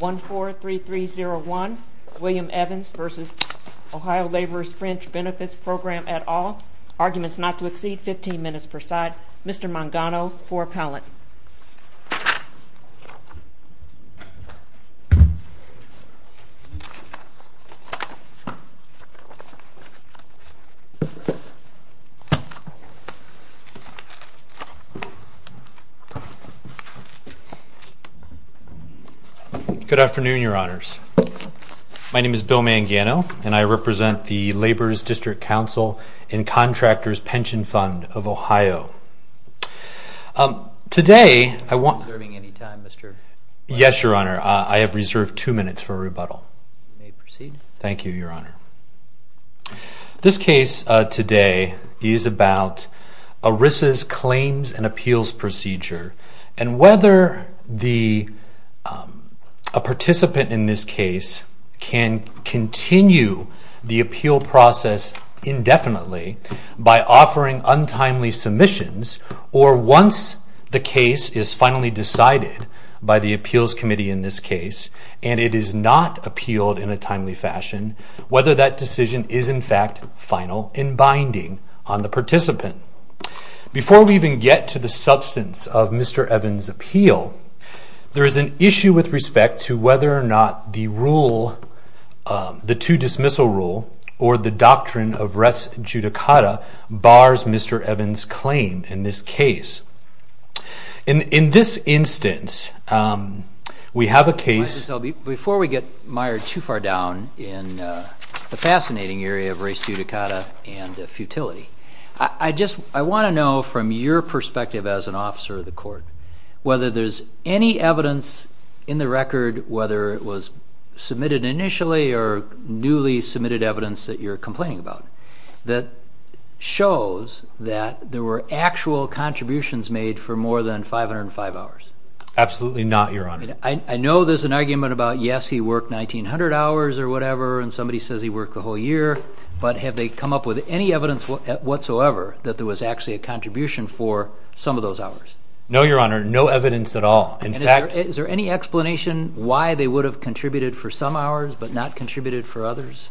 143301 William Evans v. OH Laborers Fringe Benefits Program at All Arguments not to exceed 15 minutes per side Mr. Mangano for appellant Good afternoon, your honors. My name is Bill Mangano, and I represent the Laborers District Council and Contractors Pension Fund of Ohio. Today, I want... Are you reserving any time, Mr. Mangano? Yes, your honor. I have reserved two minutes for rebuttal. You may proceed. Thank you, your honor. This case today is about ERISA's claims and appeals procedure and whether a participant in this case can continue the appeal process indefinitely by offering untimely submissions, or once the case is finally decided by the appeals committee in this case and it is not appealed in a timely fashion, whether that decision is in fact final and binding on the participant. Before we even get to the substance of Mr. Evans' appeal, there is an issue with respect to whether or not the rule, the two-dismissal rule, or the doctrine of res judicata, bars Mr. Evans' claim in this case. In this instance, we have a case... Before we get mired too far down in the fascinating area of res judicata and futility, I want to know from your perspective as an officer of the court whether there's any evidence in the record, whether it was submitted initially or newly submitted evidence that you're complaining about, that shows that there were actual contributions made for more than 505 hours. Absolutely not, your honor. I know there's an argument about, yes, he worked 1,900 hours or whatever, and somebody says he worked the whole year, but have they come up with any evidence whatsoever that there was actually a contribution for some of those hours? No, your honor, no evidence at all. Is there any explanation why they would have contributed for some hours but not contributed for others?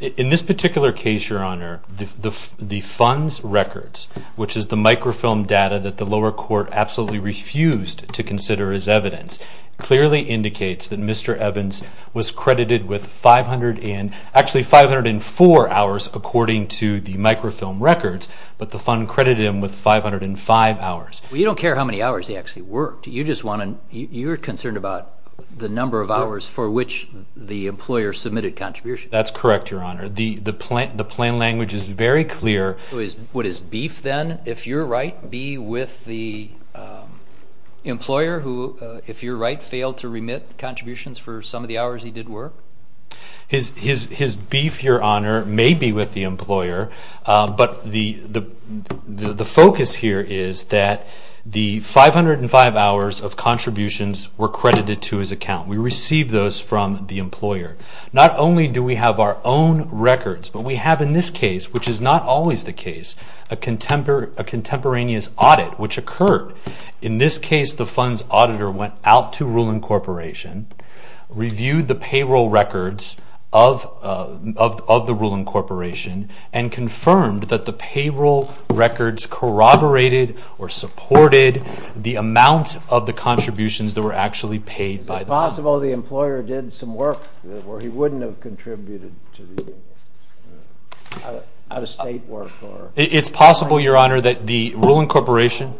In this particular case, your honor, the funds records, which is the microfilm data that the lower court absolutely refused to consider as evidence, clearly indicates that Mr. Evans was credited with 500 and, actually 504 hours according to the microfilm records, but the fund credited him with 505 hours. Well, you don't care how many hours he actually worked. You just want to, you're concerned about the number of hours for which the employer submitted contributions. That's correct, your honor. The plain language is very clear. Would his beef then, if you're right, be with the employer who, if you're right, failed to remit contributions for some of the hours he did work? His beef, your honor, may be with the employer, but the focus here is that the 505 hours of contributions were credited to his account. We received those from the employer. Not only do we have our own records, but we have in this case, which is not always the case, a contemporaneous audit which occurred. In this case, the funds auditor went out to Rulon Corporation, reviewed the payroll records of the Rulon Corporation, and confirmed that the payroll records corroborated or supported the amount of the contributions that were actually paid by the fund. It's possible the employer did some work where he wouldn't have contributed to the out-of-state work. It's possible, your honor, that the Rulon Corporation,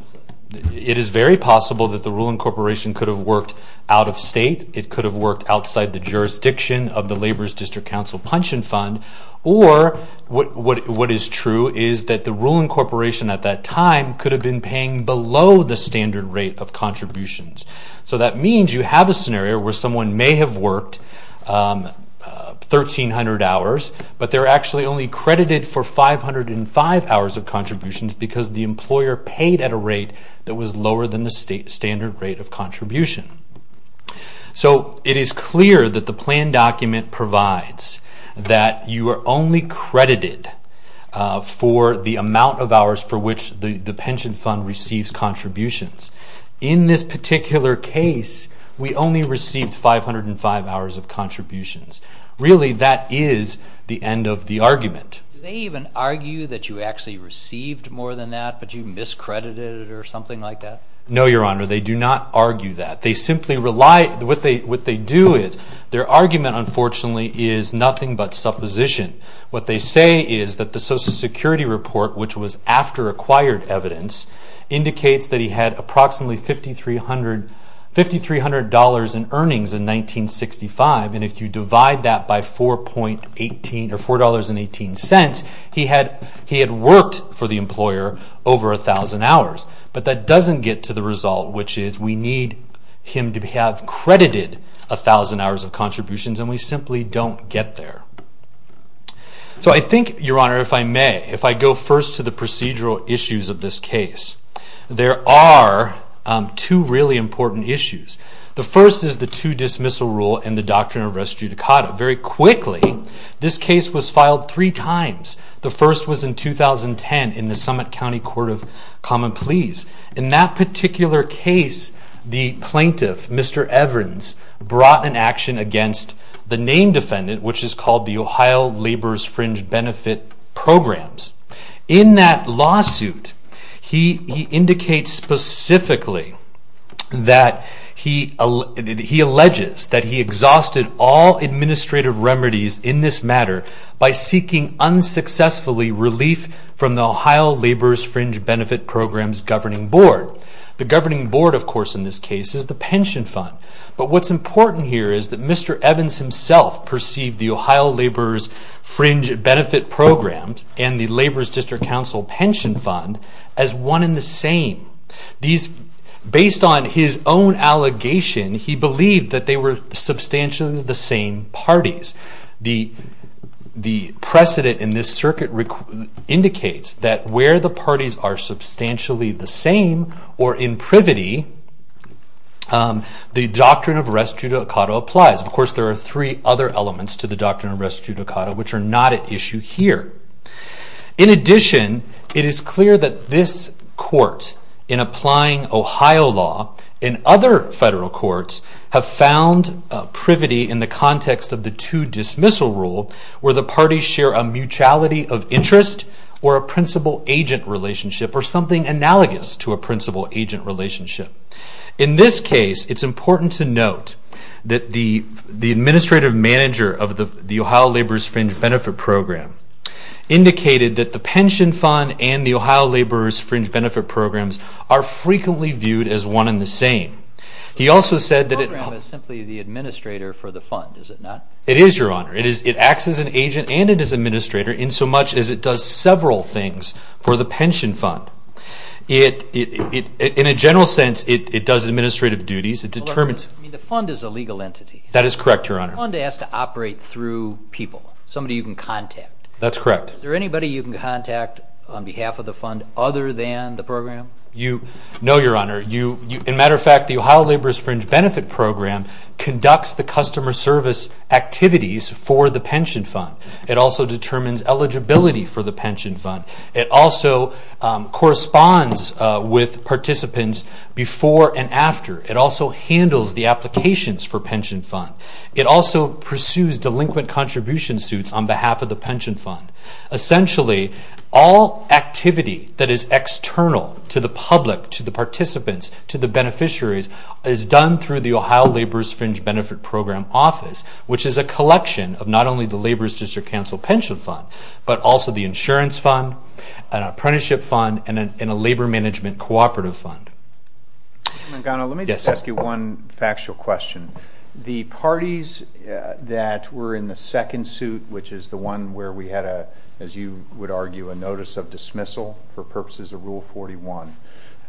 it is very possible that the Rulon Corporation could have worked out-of-state. It could have worked outside the jurisdiction of the Labor's District Council Pension Fund. Or what is true is that the Rulon Corporation at that time could have been paying below the standard rate of contributions. That means you have a scenario where someone may have worked 1,300 hours, but they're actually only credited for 505 hours of contributions because the employer paid at a rate that was lower than the standard rate of contribution. It is clear that the plan document provides that you are only credited for the amount of hours for which the pension fund receives contributions. In this particular case, we only received 505 hours of contributions. Really, that is the end of the argument. Do they even argue that you actually received more than that, but you miscredited it or something like that? No, your honor, they do not argue that. They simply rely, what they do is, their argument, unfortunately, is nothing but supposition. What they say is that the Social Security report, which was after acquired evidence, indicates that he had approximately $5,300 in earnings in 1965, and if you divide that by $4.18, he had worked for the employer over 1,000 hours. But that doesn't get to the result, which is we need him to have credited 1,000 hours of contributions, and we simply don't get there. So I think, your honor, if I may, if I go first to the procedural issues of this case, there are two really important issues. The first is the two-dismissal rule and the doctrine of res judicata. Very quickly, this case was filed three times. The first was in 2010 in the Summit County Court of Common Pleas. In that particular case, the plaintiff, Mr. Evans, brought an action against the name defendant, which is called the Ohio Laborers' Fringe Benefit Programs. In that lawsuit, he indicates specifically that he alleges that he exhausted all administrative remedies in this matter by seeking unsuccessfully relief from the Ohio Laborers' Fringe Benefit Programs governing board. The governing board, of course, in this case, is the pension fund. But what's important here is that Mr. Evans himself perceived the Ohio Laborers' Fringe Benefit Programs and the Laborers' District Council Pension Fund as one and the same. Based on his own allegation, he believed that they were substantially the same parties. The precedent in this circuit indicates that where the parties are substantially the same, or in privity, the doctrine of res judicata applies. Of course, there are three other elements to the doctrine of res judicata, which are not at issue here. In addition, it is clear that this court, in applying Ohio law in other federal courts, have found privity in the context of the two-dismissal rule, where the parties share a mutuality of interest or a principal-agent relationship or something analogous to a principal-agent relationship. In this case, it's important to note that the administrative manager of the Ohio Laborers' Fringe Benefit Program indicated that the pension fund and the Ohio Laborers' Fringe Benefit Programs are frequently viewed as one and the same. He also said that it... The program is simply the administrator for the fund, is it not? It is, Your Honor. It acts as an agent and as an administrator in so much as it does several things for the pension fund. In a general sense, it does administrative duties. The fund is a legal entity. That is correct, Your Honor. The fund has to operate through people, somebody you can contact. That's correct. Is there anybody you can contact on behalf of the fund other than the program? No, Your Honor. In matter of fact, the Ohio Laborers' Fringe Benefit Program conducts the customer service activities for the pension fund. It also determines eligibility for the pension fund. It also corresponds with participants before and after. It also handles the applications for pension fund. It also pursues delinquent contribution suits on behalf of the pension fund. Essentially, all activity that is external to the public, to the participants, to the beneficiaries, is done through the Ohio Laborers' Fringe Benefit Program office, which is a collection of not only the Laborers' District Council pension fund, but also the insurance fund, an apprenticeship fund, and a labor management cooperative fund. Let me just ask you one factual question. The parties that were in the second suit, which is the one where we had, as you would argue, a notice of dismissal for purposes of Rule 41,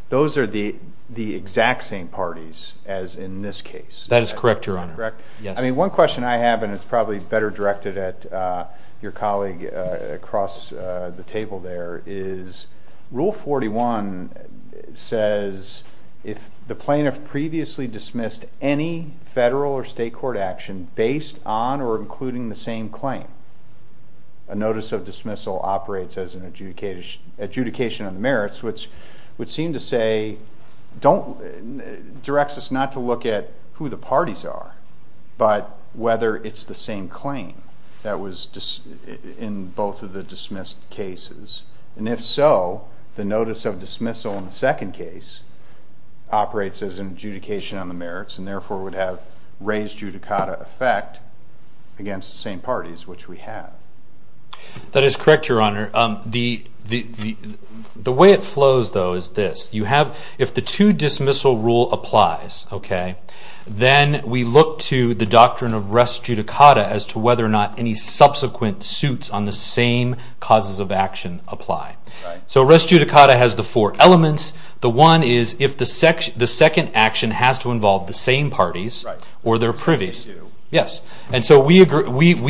those are the exact same parties as in this case. That is correct, Your Honor. Correct? Yes. I mean, one question I have, and it's probably better directed at your colleague across the table there, is Rule 41 says if the plaintiff previously dismissed any federal or state court action based on or including the same claim, a notice of dismissal operates as an adjudication of merits, which would seem to say, directs us not to look at who the parties are, but whether it's the same claim that was in both of the dismissed cases. And if so, the notice of dismissal in the second case operates as an adjudication on the merits and therefore would have raised judicata effect against the same parties, which we have. That is correct, Your Honor. The way it flows, though, is this. If the two-dismissal rule applies, okay, then we look to the doctrine of rest judicata as to whether or not any subsequent suits on the same causes of action apply. Right. So rest judicata has the four elements. The one is if the second action has to involve the same parties or their previous. Yes. And so we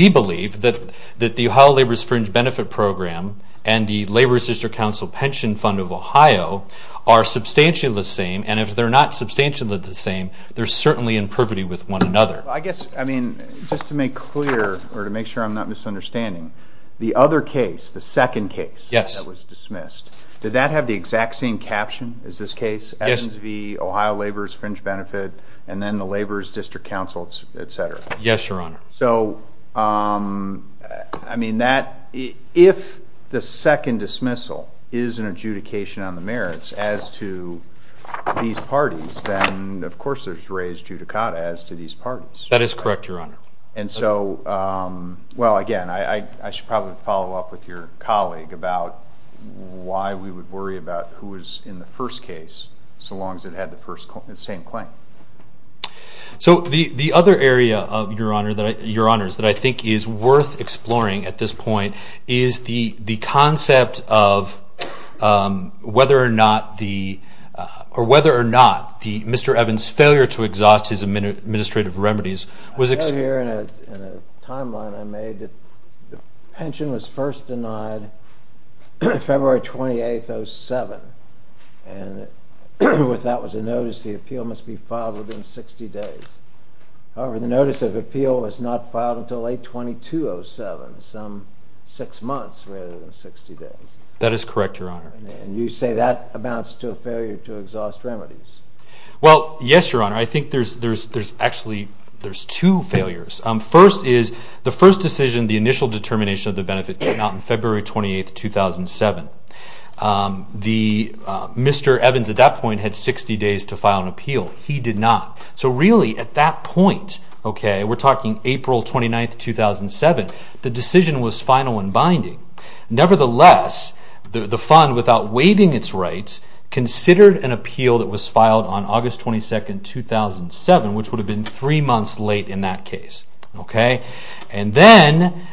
believe that the Ohio Laborers' Fringe Benefit Program and the Laborers' District Council Pension Fund of Ohio are substantially the same, and if they're not substantially the same, they're certainly in privity with one another. I guess, I mean, just to make clear or to make sure I'm not misunderstanding, the other case, the second case that was dismissed, did that have the exact same caption as this case? Yes. Evans v. Ohio Laborers' Fringe Benefit and then the Laborers' District Council, et cetera. Yes, Your Honor. So, I mean, if the second dismissal is an adjudication on the merits as to these parties, then, of course, there's rest judicata as to these parties. That is correct, Your Honor. And so, well, again, I should probably follow up with your colleague about why we would worry about who was in the first case so long as it had the same claim. So the other area, Your Honors, that I think is worth exploring at this point is the concept of whether or not Mr. Evans' failure to exhaust his administrative remedies was... I know here in a timeline I made that the pension was first denied February 28, 2007, and that was a notice the appeal must be filed within 60 days. However, the notice of appeal was not filed until late 2207, some six months rather than 60 days. That is correct, Your Honor. And you say that amounts to a failure to exhaust remedies. Well, yes, Your Honor. I think there's actually two failures. First is the first decision, the initial determination of the benefit, came out on February 28, 2007. Mr. Evans at that point had 60 days to file an appeal. He did not. So really at that point, we're talking April 29, 2007, the decision was final and binding. Nevertheless, the fund, without waiving its rights, considered an appeal that was filed on August 22, 2007, which would have been three months late in that case. And then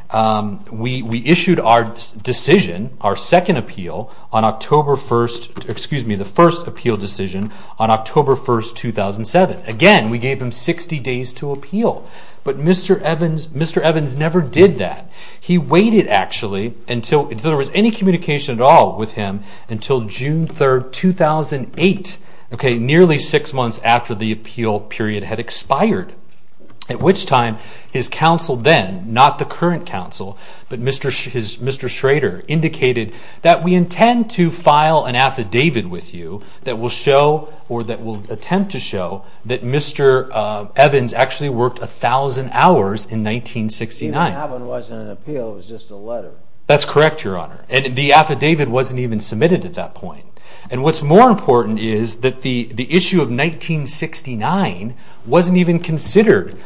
we issued our decision, our second appeal, on October 1, 2007. Again, we gave him 60 days to appeal. But Mr. Evans never did that. He waited, actually, until there was any communication at all with him until June 3, 2008, nearly six months after the appeal period had expired, at which time his counsel then, not the current counsel, but Mr. Schrader, indicated that we intend to file an affidavit with you that will show, or that will attempt to show, that Mr. Evans actually worked 1,000 hours in 1969. Even that one wasn't an appeal. It was just a letter. That's correct, Your Honor. And the affidavit wasn't even submitted at that point. And what's more important is that the issue of 1969 wasn't even considered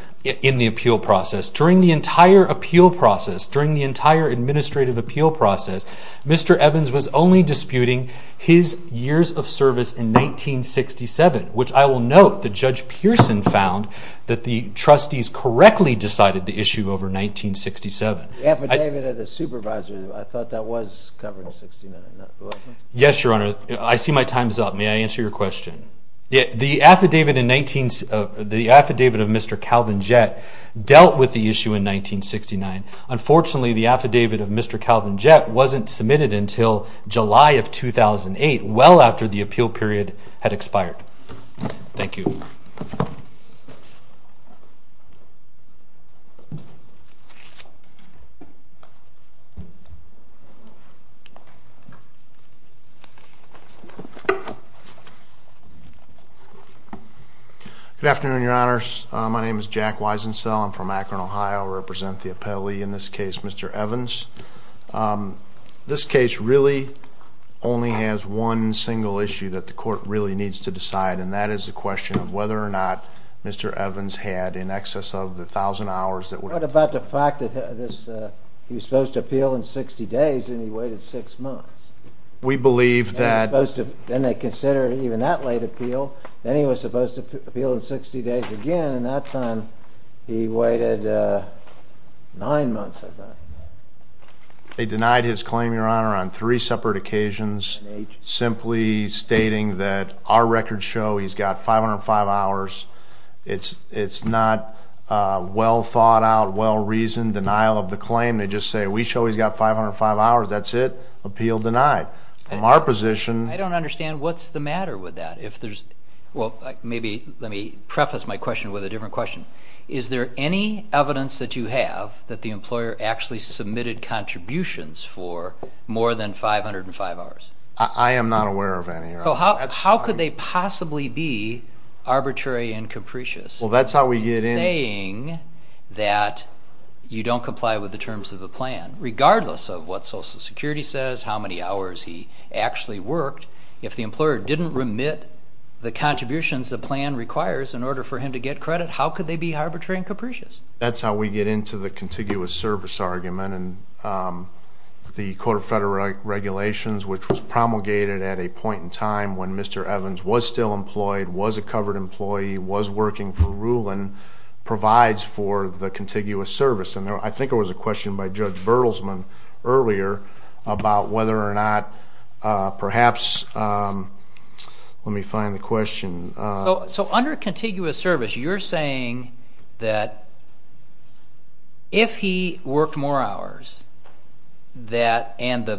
in the appeal process. During the entire appeal process, during the entire administrative appeal process, Mr. Evans was only disputing his years of service in 1967, which I will note that Judge Pearson found that the trustees correctly decided the issue over 1967. The affidavit of the supervisor, I thought that was covered in 1969, wasn't it? Yes, Your Honor. I see my time is up. May I answer your question? The affidavit of Mr. Calvin Jett dealt with the issue in 1969. Unfortunately, the affidavit of Mr. Calvin Jett wasn't submitted until July of 2008, well after the appeal period had expired. Thank you. Good afternoon, Your Honors. My name is Jack Wisensell. I'm from Akron, Ohio. I represent the appellee in this case, Mr. Evans. This case really only has one single issue that the court really needs to decide, and that is the question of whether or not Mr. Evans had in excess of the 1,000 hours that were... What about the fact that he was supposed to appeal in 60 days and he waited six months? We believe that... Then they considered even that late appeal. Then he was supposed to appeal in 60 days again. In that time, he waited nine months, I believe. They denied his claim, Your Honor, on three separate occasions, simply stating that our records show he's got 505 hours. It's not well thought out, well reasoned denial of the claim. They just say, We show he's got 505 hours. That's it. Appeal denied. From our position... I don't understand. What's the matter with that? Maybe let me preface my question with a different question. Is there any evidence that you have that the employer actually submitted contributions for more than 505 hours? I am not aware of any. How could they possibly be arbitrary and capricious in saying that you don't comply with the terms of the plan, regardless of what Social Security says, how many hours he actually worked, if the employer didn't remit the contributions the plan requires in order for him to get credit, how could they be arbitrary and capricious? That's how we get into the contiguous service argument. The Court of Federal Regulations, which was promulgated at a point in time when Mr. Evans was still employed, was a covered employee, was working for Rulin, provides for the contiguous service. I think there was a question by Judge Bertelsman earlier about whether or not perhaps... Let me find the question. So under contiguous service, you're saying that if he worked more hours and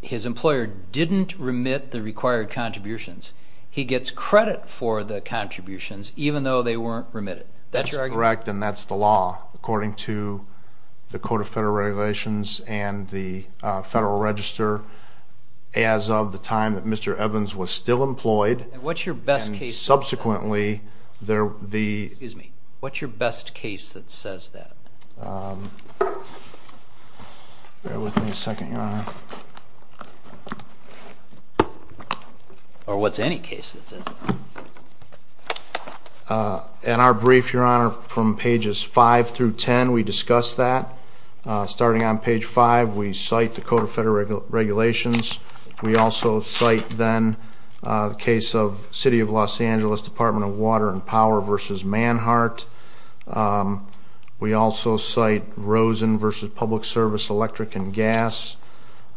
his employer didn't remit the required contributions, he gets credit for the contributions even though they weren't remitted. That's your argument? That's correct, and that's the law, according to the Court of Federal Regulations and the Federal Register, as of the time that Mr. Evans was still employed. And what's your best case that says that? Subsequently, the... Excuse me. What's your best case that says that? Bear with me a second, Your Honor. Or what's any case that says that? In our brief, Your Honor, from pages 5 through 10, we discuss that. Starting on page 5, we cite the Code of Federal Regulations. We also cite then the case of City of Los Angeles, Department of Water and Power v. Manhart. We also cite Rosen v. Public Service, Electric and Gas,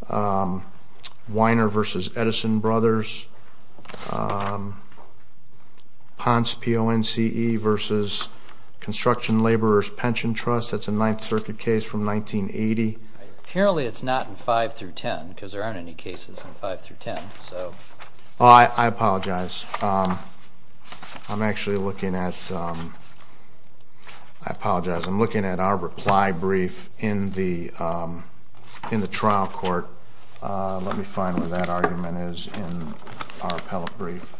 Weiner v. Edison Brothers, Ponce P-O-N-C-E v. Construction Laborers Pension Trust. That's a Ninth Circuit case from 1980. Apparently, it's not in 5 through 10 because there aren't any cases in 5 through 10. I apologize. I'm actually looking at... I apologize. I'm looking at our reply brief in the trial court. Let me find where that argument is in our appellate brief.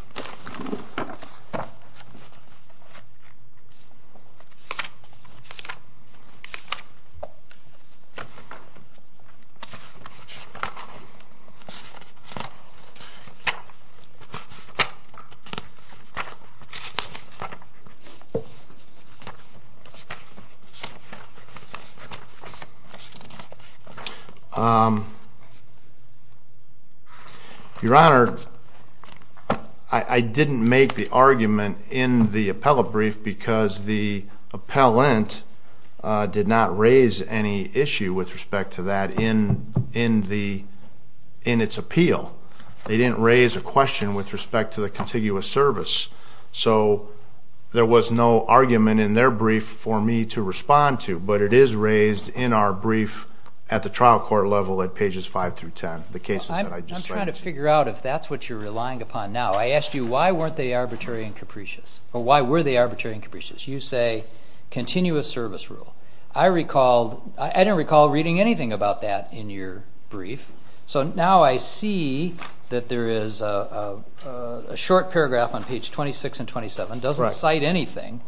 Your Honor, I didn't make the argument in the appellate brief because the appellant did not raise any issue with respect to that in its appeal. They didn't raise a question with respect to the contiguous service. So there was no argument in their brief for me to respond to, but it is raised in our brief at the trial court level at pages 5 through 10, the cases that I just cited. I'm trying to figure out if that's what you're relying upon now. I asked you why weren't they arbitrary and capricious, or why were they arbitrary and capricious. You say continuous service rule. I recall... I didn't recall reading anything about that in your brief. So now I see that there is a short paragraph on page 26 and 27. It doesn't cite anything.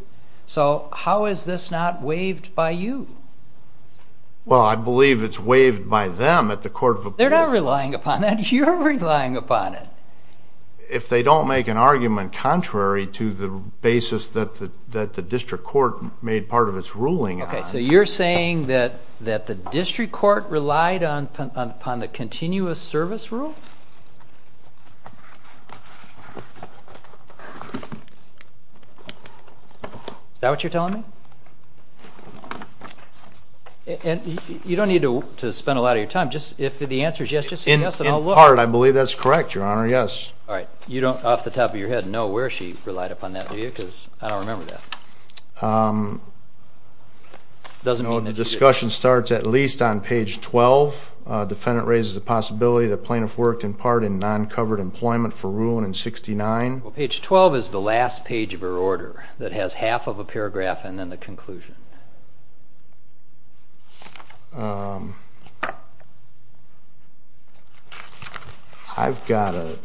So how is this not waived by you? Well, I believe it's waived by them at the court of appeals. They're not relying upon that. You're relying upon it. If they don't make an argument contrary to the basis that the district court made part of its ruling on. Okay, so you're saying that the district court relied upon the continuous service rule? Is that what you're telling me? You don't need to spend a lot of your time. If the answer is yes, just say yes and I'll look. In part, I believe that's correct, Your Honor, yes. All right, you don't off the top of your head know where she relied upon that, do you? Because I don't remember that. It doesn't mean that you didn't. The discussion starts at least on page 12. Defendant raises the possibility that plaintiff worked in part in non-covered employment for ruling in 69. Well, page 12 is the last page of her order that has half of a paragraph and then the conclusion. I've got an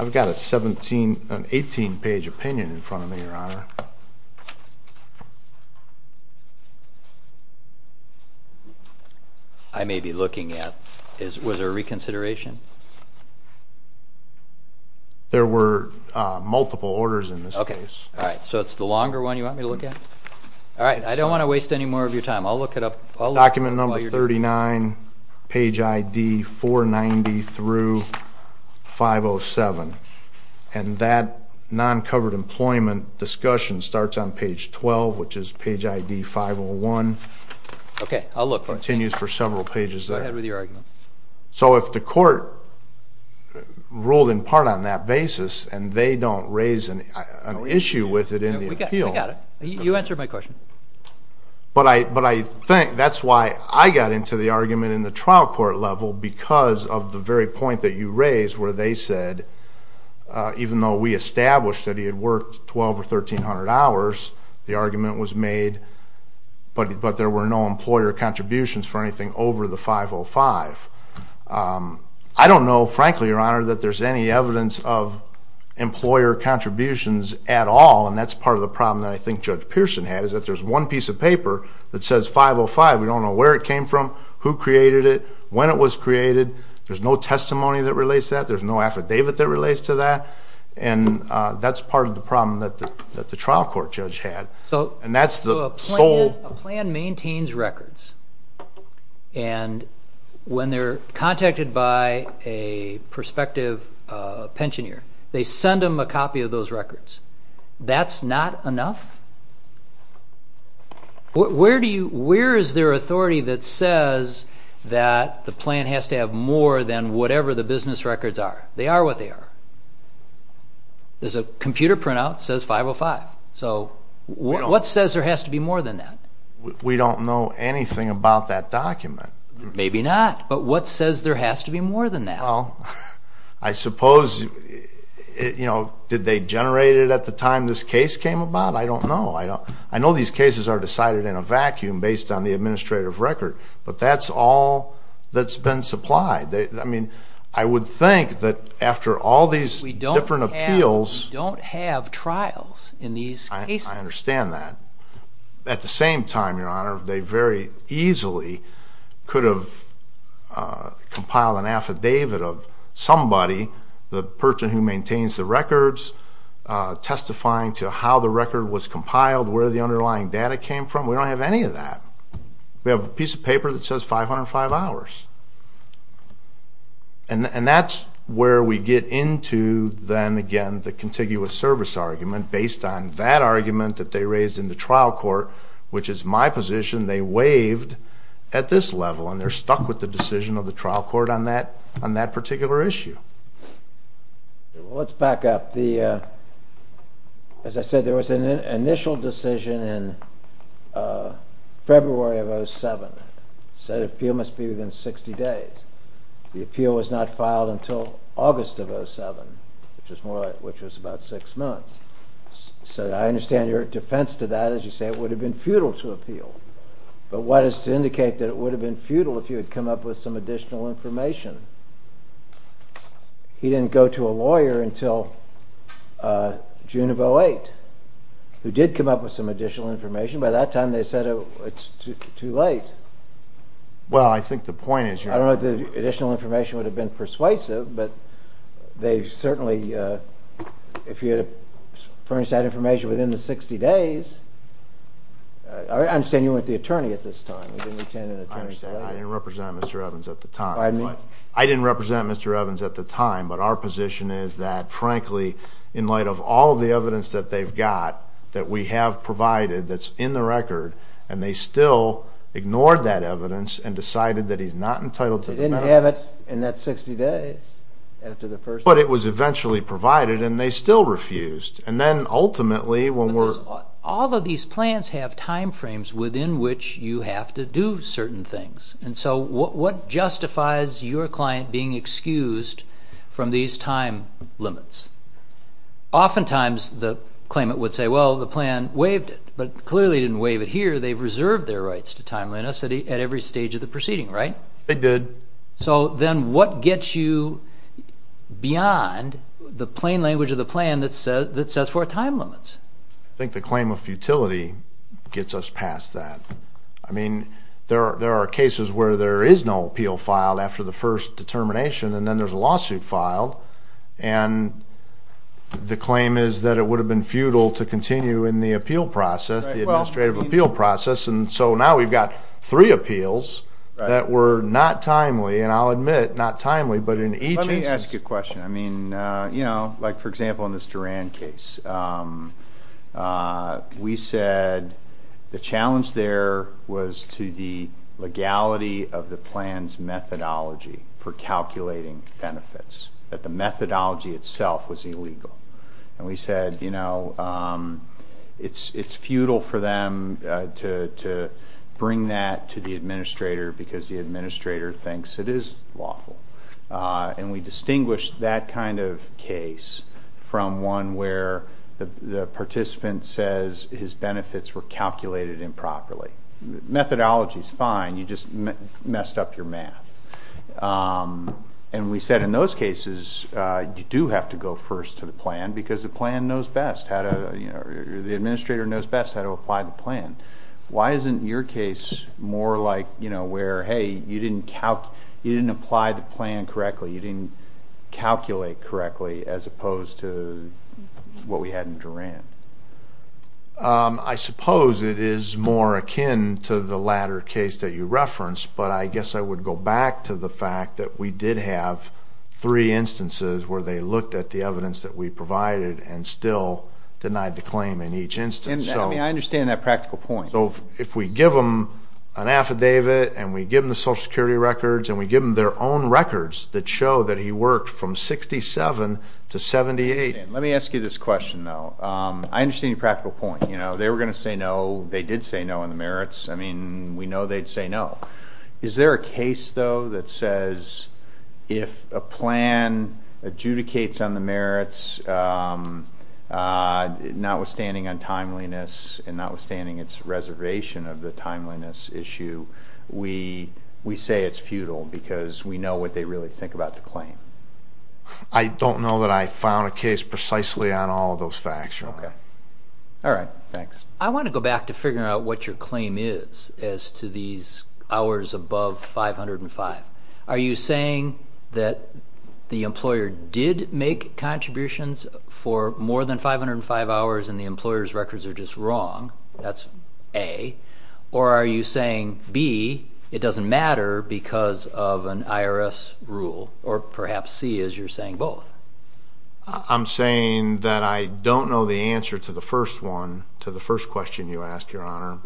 18-page opinion in front of me, Your Honor. I may be looking at, was there a reconsideration? There were multiple orders in this case. All right, so it's the longer one you want me to look at? All right, I don't want to waste any more of your time. I'll look it up. Document number 39, page ID 490 through 507. And that non-covered employment discussion starts on page 12, which is page ID 501. Okay, I'll look for it. It continues for several pages there. Go ahead with your argument. So if the court ruled in part on that basis and they don't raise an issue with it in the appeal. We got it. You answered my question. But I think that's why I got into the argument in the trial court level because of the very point that you raised where they said even though we established that he had worked 1,200 or 1,300 hours, the argument was made, but there were no employer contributions for anything over the 505. I don't know, frankly, Your Honor, that there's any evidence of employer contributions at all, and that's part of the problem that I think Judge Pearson had is that there's one piece of paper that says 505. We don't know where it came from, who created it, when it was created. There's no testimony that relates to that. There's no affidavit that relates to that. And that's part of the problem that the trial court judge had. So a plan maintains records, and when they're contacted by a prospective pensioneer, they send them a copy of those records. That's not enough? Where is there authority that says that the plan has to have more than whatever the business records are? They are what they are. There's a computer printout that says 505. So what says there has to be more than that? We don't know anything about that document. Maybe not, but what says there has to be more than that? Well, I suppose, you know, did they generate it at the time this case came about? I don't know. I know these cases are decided in a vacuum based on the administrative record, but that's all that's been supplied. I would think that after all these different appeals. We don't have trials in these cases. I understand that. At the same time, Your Honor, they very easily could have compiled an affidavit of somebody, the person who maintains the records, testifying to how the record was compiled, where the underlying data came from. We don't have any of that. We have a piece of paper that says 505 hours. And that's where we get into, then again, the contiguous service argument based on that argument that they raised in the trial court, which is my position. They waived at this level, and they're stuck with the decision of the trial court on that particular issue. Let's back up. As I said, there was an initial decision in February of 2007. It said the appeal must be within 60 days. The appeal was not filed until August of 2007, which was about six months. So I understand your defense to that is you say it would have been futile to appeal. But what is to indicate that it would have been futile if you had come up with some additional information? He didn't go to a lawyer until June of 2008, who did come up with some additional information. By that time, they said it's too late. Well, I think the point is you're... I don't know if the additional information would have been persuasive, but they certainly, if you had furnished that information within the 60 days, I understand you weren't the attorney at this time. I understand. I didn't represent Mr. Evans at the time. Pardon me? I didn't represent Mr. Evans at the time, but our position is that, frankly, in light of all the evidence that they've got that we have provided that's in the record, and they still ignored that evidence and decided that he's not entitled to the matter. They didn't have it in that 60 days after the first... But it was eventually provided, and they still refused. And then ultimately, when we're... All of these plans have time frames within which you have to do certain things. And so what justifies your client being excused from these time limits? Oftentimes the claimant would say, well, the plan waived it, but clearly didn't waive it here. They've reserved their rights to timeliness at every stage of the proceeding, right? They did. So then what gets you beyond the plain language of the plan that sets forth time limits? I think the claim of futility gets us past that. I mean, there are cases where there is no appeal filed after the first determination, and then there's a lawsuit filed, and the claim is that it would have been futile to continue in the appeal process, the administrative appeal process, and so now we've got three appeals that were not timely. And I'll admit, not timely, but in each instance... Let me ask you a question. I mean, you know, like for example in this Duran case, we said the challenge there was to the legality of the plan's methodology for calculating benefits, that the methodology itself was illegal. And we said, you know, it's futile for them to bring that to the administrator because the administrator thinks it is lawful. And we distinguished that kind of case from one where the participant says his benefits were calculated improperly. Methodology is fine. You just messed up your math. And we said in those cases, you do have to go first to the plan because the plan knows best. Why isn't your case more like, you know, where, hey, you didn't apply the plan correctly, you didn't calculate correctly as opposed to what we had in Duran? I suppose it is more akin to the latter case that you referenced, but I guess I would go back to the fact that we did have three instances where they looked at the evidence that we provided and still denied the claim in each instance. I mean, I understand that practical point. So if we give them an affidavit and we give them the Social Security records and we give them their own records that show that he worked from 67 to 78. Let me ask you this question, though. I understand your practical point. You know, they were going to say no. They did say no on the merits. I mean, we know they'd say no. Is there a case, though, that says if a plan adjudicates on the merits, notwithstanding untimeliness and notwithstanding its reservation of the timeliness issue, we say it's futile because we know what they really think about the claim? I don't know that I found a case precisely on all of those facts. Okay. All right. Thanks. I want to go back to figuring out what your claim is as to these hours above 505. Are you saying that the employer did make contributions for more than 505 hours and the employer's records are just wrong? That's A. Or are you saying, B, it doesn't matter because of an IRS rule? Or perhaps, C, as you're saying both? I'm saying that I don't know the answer to the first one, to the first question you asked, Your Honor.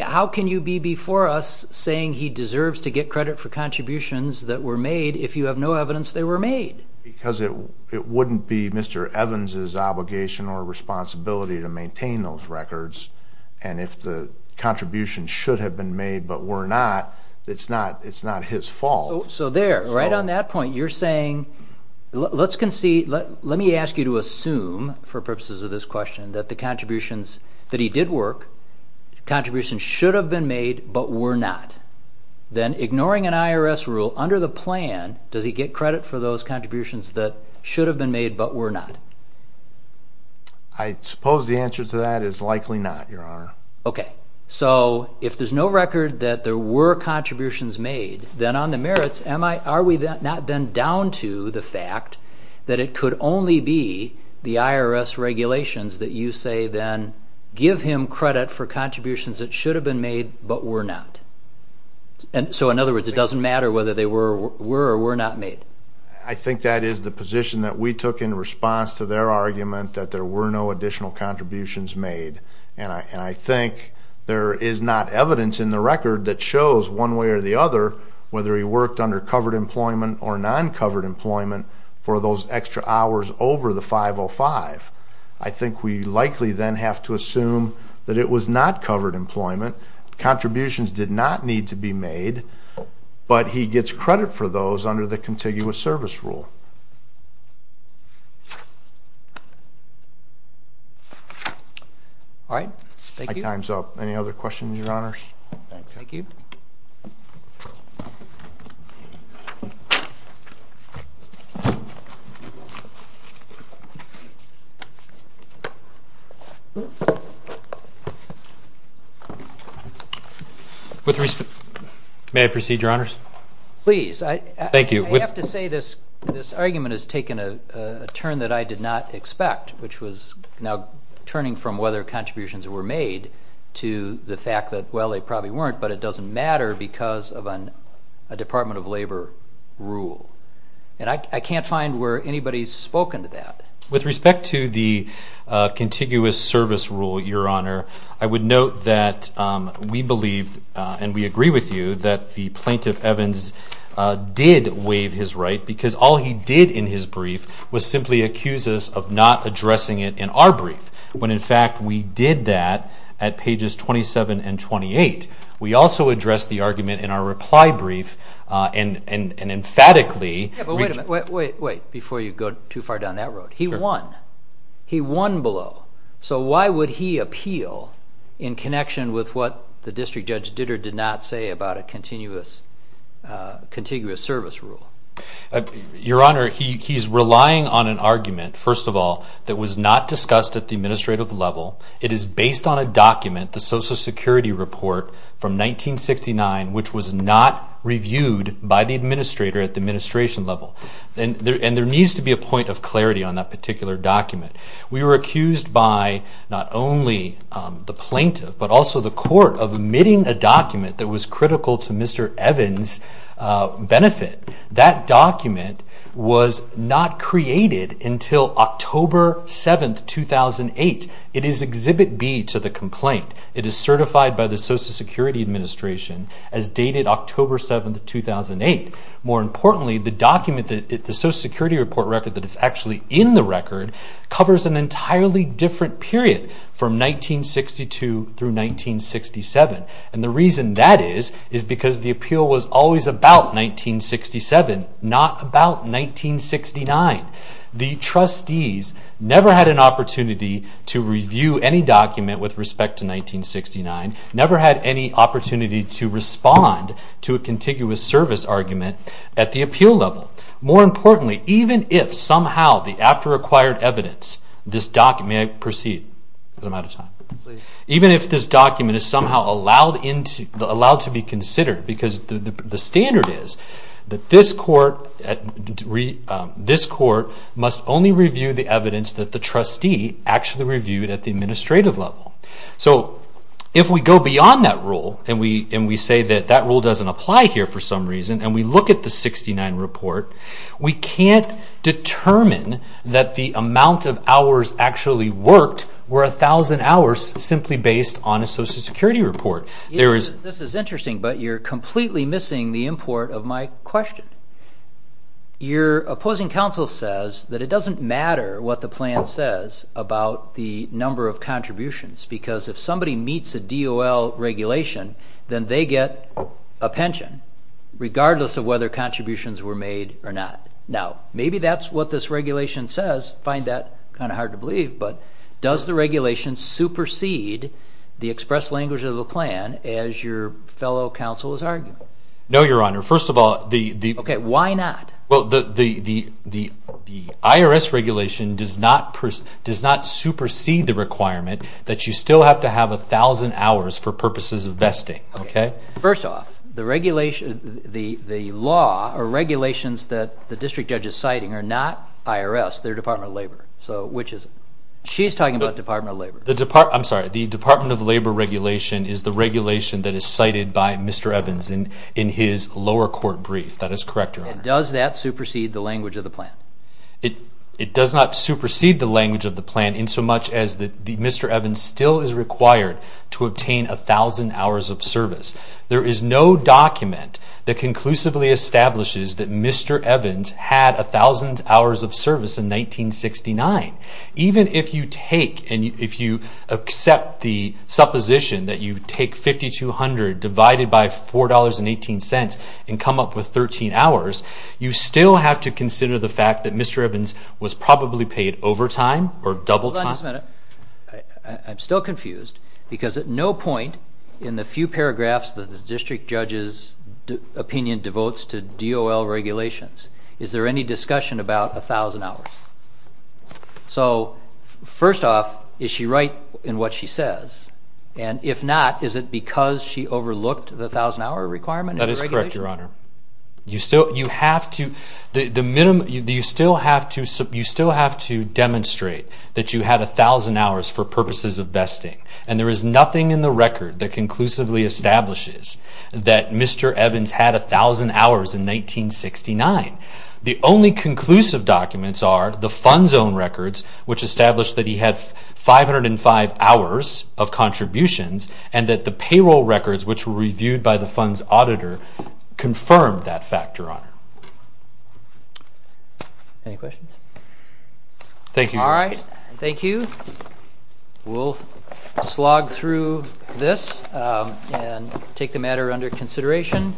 How can you be before us saying he deserves to get credit for contributions that were made if you have no evidence they were made? Because it wouldn't be Mr. Evans' obligation or responsibility to maintain those records, and if the contributions should have been made but were not, it's not his fault. So there, right on that point, you're saying, let me ask you to assume, for purposes of this question, that the contributions that he did work, contributions should have been made but were not. Then, ignoring an IRS rule, under the plan, does he get credit for those contributions that should have been made but were not? I suppose the answer to that is likely not, Your Honor. Okay. So if there's no record that there were contributions made, then on the merits, are we not then down to the fact that it could only be the IRS regulations that you say then, give him credit for contributions that should have been made but were not? So, in other words, it doesn't matter whether they were or were not made? I think that is the position that we took in response to their argument that there were no additional contributions made. And I think there is not evidence in the record that shows, one way or the other, whether he worked under covered employment or non-covered employment for those extra hours over the 505. I think we likely then have to assume that it was not covered employment, contributions did not need to be made, but he gets credit for those under the contiguous service rule. My time is up. Any other questions, Your Honors? Thank you. May I proceed, Your Honors? Please. Thank you. I have to say this argument has taken a turn that I did not expect, which was now turning from whether contributions were made to the fact that, well, they probably weren't, but it doesn't matter because of a Department of Labor rule. And I can't find where anybody has spoken to that. With respect to the contiguous service rule, Your Honor, I would note that we believe, and we agree with you, that the Plaintiff Evans did waive his right because all he did in his brief was simply accuse us of not addressing it in our brief, when, in fact, we did that at pages 27 and 28. We also addressed the argument in our reply brief and emphatically. Yeah, but wait a minute. Wait, wait, before you go too far down that road. He won. He won below. So why would he appeal in connection with what the district judge did or did not say about a contiguous service rule? Your Honor, he's relying on an argument, first of all, that was not discussed at the administrative level. It is based on a document, the Social Security report from 1969, which was not reviewed by the administrator at the administration level. And there needs to be a point of clarity on that particular document. We were accused by not only the Plaintiff, but also the court of omitting a document that was critical to Mr. Evans' benefit. That document was not created until October 7, 2008. It is Exhibit B to the complaint. It is certified by the Social Security Administration as dated October 7, 2008. More importantly, the document, covers an entirely different period from 1962 through 1967. And the reason that is, is because the appeal was always about 1967, not about 1969. The trustees never had an opportunity to review any document with respect to 1969, never had any opportunity to respond to a contiguous service argument at the appeal level. More importantly, even if somehow the after-acquired evidence, this document, may I proceed? Because I'm out of time. Even if this document is somehow allowed to be considered, because the standard is that this court must only review the evidence that the trustee actually reviewed at the administrative level. So if we go beyond that rule, and we say that that rule doesn't apply here for some reason, and we look at the 1969 report, we can't determine that the amount of hours actually worked were 1,000 hours simply based on a Social Security report. This is interesting, but you're completely missing the import of my question. Your opposing counsel says that it doesn't matter what the plan says about the number of contributions, because if somebody meets a DOL regulation, then they get a pension regardless of whether contributions were made or not. Now, maybe that's what this regulation says. I find that kind of hard to believe, but does the regulation supersede the express language of the plan as your fellow counsel is arguing? No, Your Honor. First of all, the... Okay, why not? Well, the IRS regulation does not supersede the requirement that you still have to have 1,000 hours for purposes of vesting. First off, the law or regulations that the district judge is citing are not IRS, they're Department of Labor. She's talking about Department of Labor. I'm sorry, the Department of Labor regulation is the regulation that is cited by Mr. Evans in his lower court brief. That is correct, Your Honor. And does that supersede the language of the plan? It does not supersede the language of the plan in so much as that Mr. Evans still is required to obtain 1,000 hours of service. There is no document that conclusively establishes that Mr. Evans had 1,000 hours of service in 1969. Even if you take and if you accept the supposition that you take 5,200 divided by $4.18 and come up with 13 hours, you still have to consider the fact that Mr. Evans was probably paid overtime or double time. Hold on just a minute. I'm still confused because at no point in the few paragraphs that the district judge's opinion devotes to DOL regulations is there any discussion about 1,000 hours. So first off, is she right in what she says? And if not, is it because she overlooked the 1,000-hour requirement? That is correct, Your Honor. You still have to demonstrate that you had 1,000 hours for purposes of vesting, and there is nothing in the record that conclusively establishes that Mr. Evans had 1,000 hours in 1969. The only conclusive documents are the fund's own records, which establish that he had 505 hours of contributions, and that the payroll records, which were reviewed by the fund's auditor, confirmed that fact, Your Honor. Any questions? Thank you, Your Honor. All right. Thank you. We'll slog through this and take the matter under consideration.